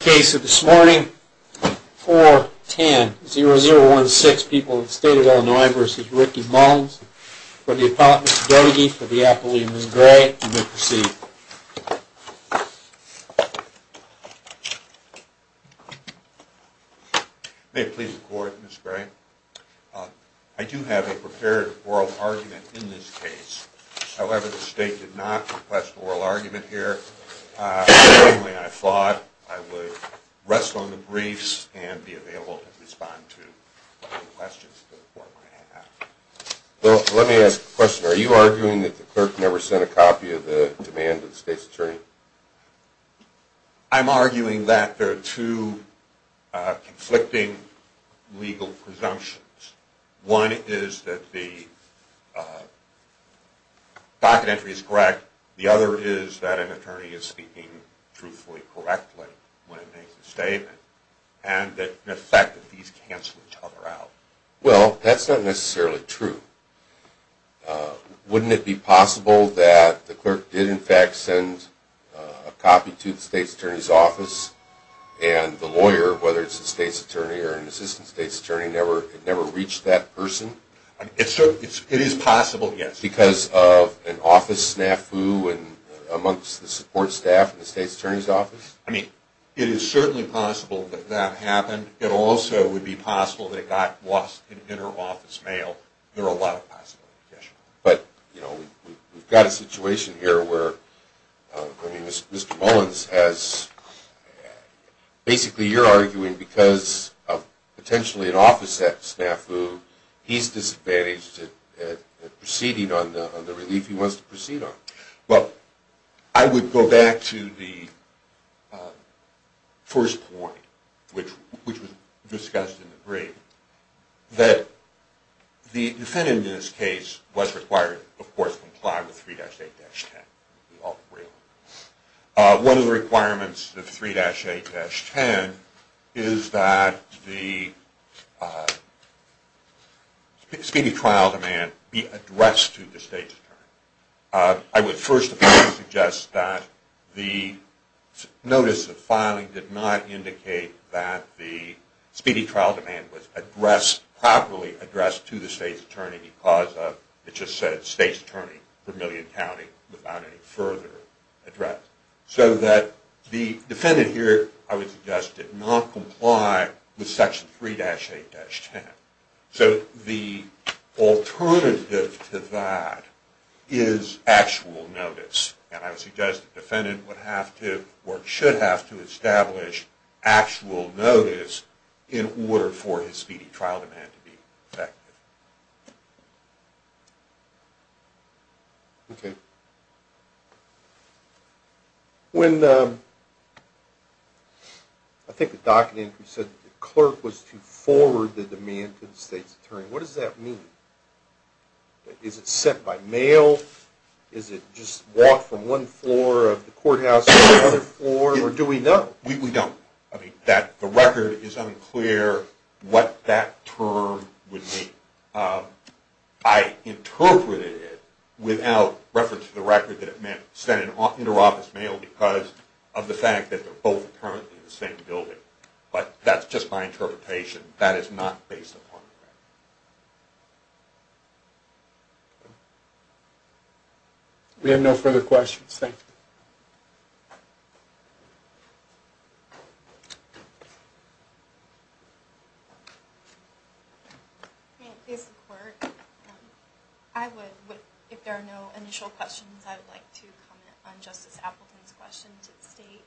case of this morning. 4 10 0 0 1 6 people in the state of Illinois versus Ricky Mullins for the apology for the appellee, Ms. Gray, you may proceed. May it please the court, Ms. Gray. I do have a prepared oral argument in this case. However, the state did not request an oral argument here. Secondly, I thought I would rest on the briefs and be available to respond to any questions the court may have. Well, let me ask a question. Are you arguing that the clerk never sent a copy of the demand to the state's attorney? I'm arguing that there are two conflicting legal presumptions. One is that the docket entry is correct. The other is that an attorney is speaking truthfully, correctly when he makes a statement, and the fact that these cancel each other out. Well, that's not necessarily true. Wouldn't it be possible that the clerk did in fact send a copy to the state's attorney's office, and the lawyer, whether it's the state's attorney or an assistant state's attorney, never reached that person? It is possible, yes. Because of an office snafu amongst the support staff in the state's attorney's office? I mean, it is certainly possible that that happened. It also would be possible that it got lost in inter-office mail. There are a lot of possibilities, yes. But, you know, we've got a situation here where, I mean, Mr. Mullins has, basically you're arguing because of potentially an office snafu, he's disadvantaged at proceeding on the relief he wants to proceed on. Well, I would go back to the first point, which was discussed in the brief, that the defendant in this case was required, of course, to comply with 3-8-10. One of the requirements of 3-8-10 is that the speedy trial demand be addressed to the state's attorney. I would first of all suggest that the notice of filing did not indicate that the speedy trial demand was properly addressed to the state's attorney because of, it just said, state's attorney for Million County without any further address. So that the defendant here, I would suggest, did not comply with Section 3-8-10. So the alternative to that is actual notice, and I would suggest the defendant would have to, or should have to, establish actual notice in order for his speedy trial demand to be effective. Okay. When, I think the document said the clerk was to forward the demand to the state's attorney. What does that mean? Is it sent by mail? Is it just walked from one floor of the courthouse to another floor, or do we know? We don't. I mean, the record is unclear what that term would mean. I interpreted it without reference to the record that it meant sent in an inter-office mail because of the fact that they're both currently in the same building, but that's just my interpretation. That is not based upon the record. We have no further questions. Thank you. I would, if there are no initial questions, I would like to comment on Justice Appleton's question to the state.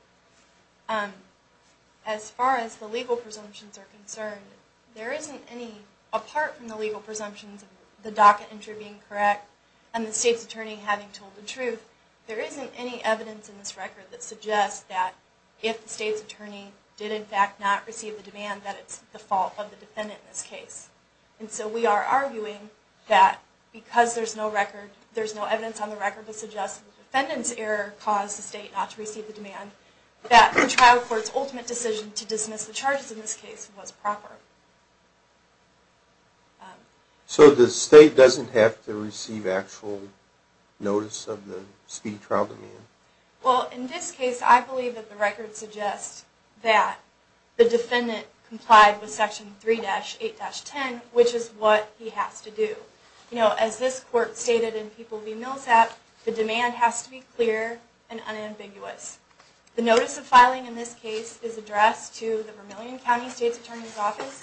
As far as the legal presumptions are concerned, there isn't any, apart from the legal presumptions of the docket entry being correct, and the state's attorney having told the truth, there isn't any evidence in this record that suggests that if the state's attorney did, in fact, have told the truth, then the state's attorney would not have had to file a suit against the state's attorney. In fact, not receive the demand that it's the fault of the defendant in this case. And so we are arguing that because there's no record, there's no evidence on the record that suggests the defendant's error caused the state not to receive the demand, that the trial court's ultimate decision to dismiss the charges in this case was proper. So the state doesn't have to receive actual notice of the speedy trial demand? Well, in this case, I believe that the record suggests that the defendant complied with Section 3-8-10, which is what he has to do. You know, as this court stated in People v. Millsap, the demand has to be clear and unambiguous. The notice of filing in this case is addressed to the Vermillion County State's Attorney's Office,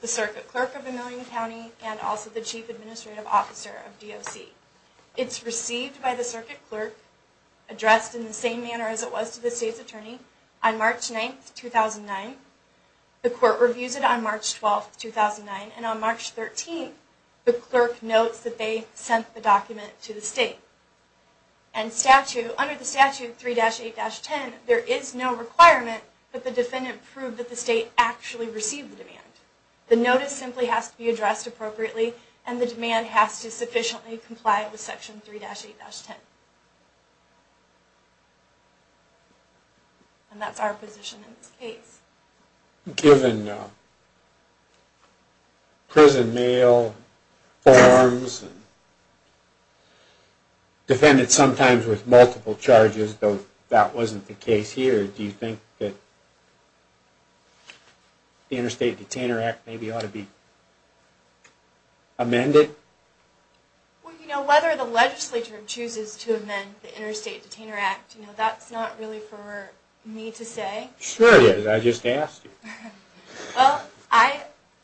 the Circuit Clerk of Vermillion County, and also the Chief Administrative Officer of DOC. It's received by the Circuit Clerk, addressed in the same manner as it was to the state's attorney, on March 9, 2009. The court reviews it on March 12, 2009, and on March 13, the clerk notes that they sent the document to the state. And statute, under the statute 3-8-10, there is no requirement that the defendant prove that the state actually received the demand. The notice simply has to be addressed appropriately, and the demand has to sufficiently comply with Section 3-8-10. And that's our position in this case. Given prison mail forms, and defendants sometimes with multiple charges, though that wasn't the case here, do you think that the Interstate Detainer Act maybe ought to be amended? Well, you know, whether the legislature chooses to amend the Interstate Detainer Act, you know, that's not really for me to say. Sure it is. I just asked you. Well, I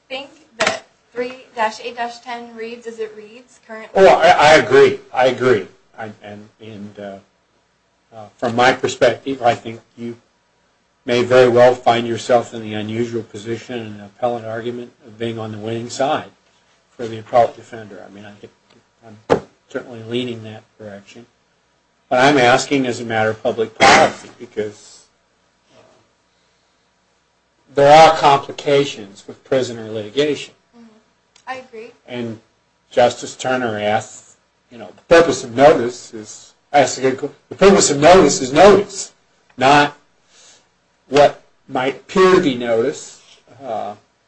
think that 3-8-10 reads as it reads currently. Well, I agree. I agree. And from my perspective, I think you may very well find yourself in the unusual position and appellate argument of being on the winning side for the appellate defender. I'm certainly leaning that direction. But I'm asking as a matter of public policy, because there are complications with prisoner litigation. I agree. And Justice Turner asks, you know, the purpose of notice is notice, not what might appear to be notice,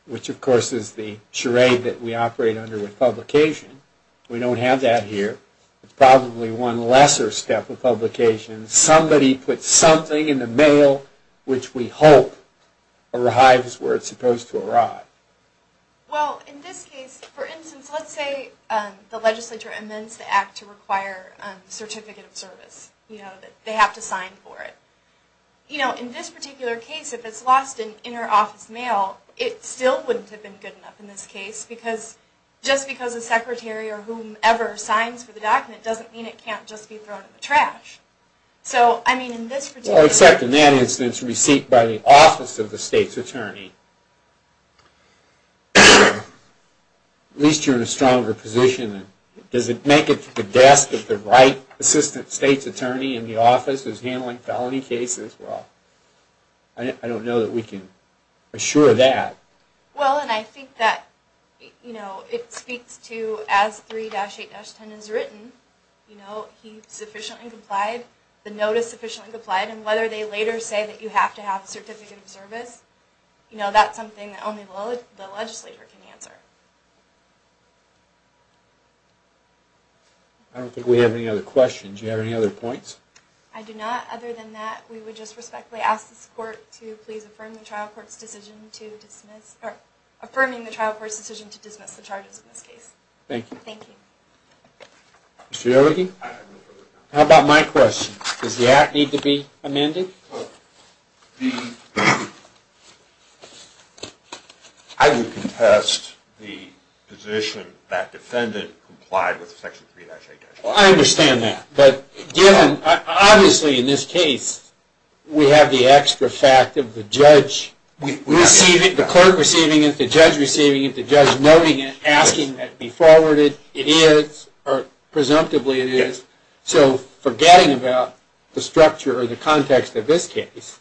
which of course is the charade that we operate under with publication. We don't have that here. It's probably one lesser step of publication. Somebody put something in the mail which we hope arrives where it's supposed to arrive. Well, in this case, for instance, let's say the legislature amends the act to require a certificate of service. They have to sign for it. You know, in this particular case, if it's lost in interoffice mail, it still wouldn't have been good enough in this case, because just because a secretary or whomever signs for the document doesn't mean it can't just be thrown in the trash. Well, except in that instance received by the office of the state's attorney. At least you're in a stronger position. Does it make it to the desk of the right assistant state's attorney in the office who's handling felony cases? Well, I don't know that we can assure that. Well, and I think that, you know, it speaks to, as 3-8-10 is written, you know, he sufficiently complied, the notice sufficiently complied, and whether they later say that you have to have a certificate of service, you know, that's something that only the legislature can answer. I don't think we have any other questions. Do you have any other points? I do not. Other than that, we would just respectfully ask this court to please affirm the trial court's decision to dismiss, or affirming the trial court's decision to dismiss the charges in this case. Thank you. Thank you. Mr. Doherty? How about my question? Does the act need to be amended? I would contest the position that defendant complied with Section 3-8-10. Well, I understand that, but given, obviously in this case, we have the extra fact of the judge. We receive it, the clerk receiving it, the judge receiving it, the judge noting it, asking that it be forwarded. It is, or presumptively it is. So, forgetting about the structure or the context of this case,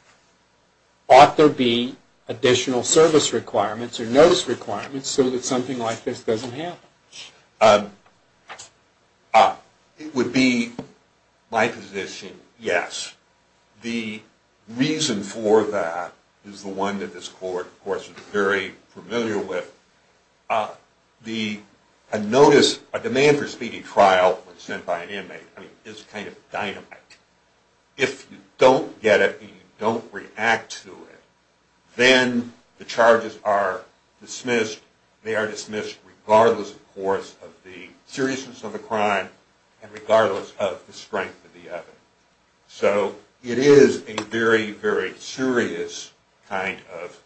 ought there be additional service requirements or notice requirements so that something like this doesn't happen? It would be my position, yes. The reason for that is the one that this court, of course, is very familiar with. A notice, a demand for speedy trial when sent by an inmate is kind of dynamite. If you don't get it and you don't react to it, then the charges are dismissed. They are dismissed regardless, of course, of the seriousness of the crime and regardless of the strength of the evidence. So, it is a very, very serious kind of,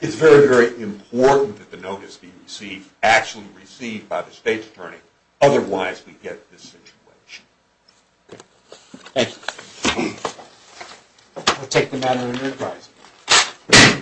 it's very, very important that the notice be received, actually received by the state's attorney. Otherwise, we get this situation. Thank you. I'll take the matter under advice.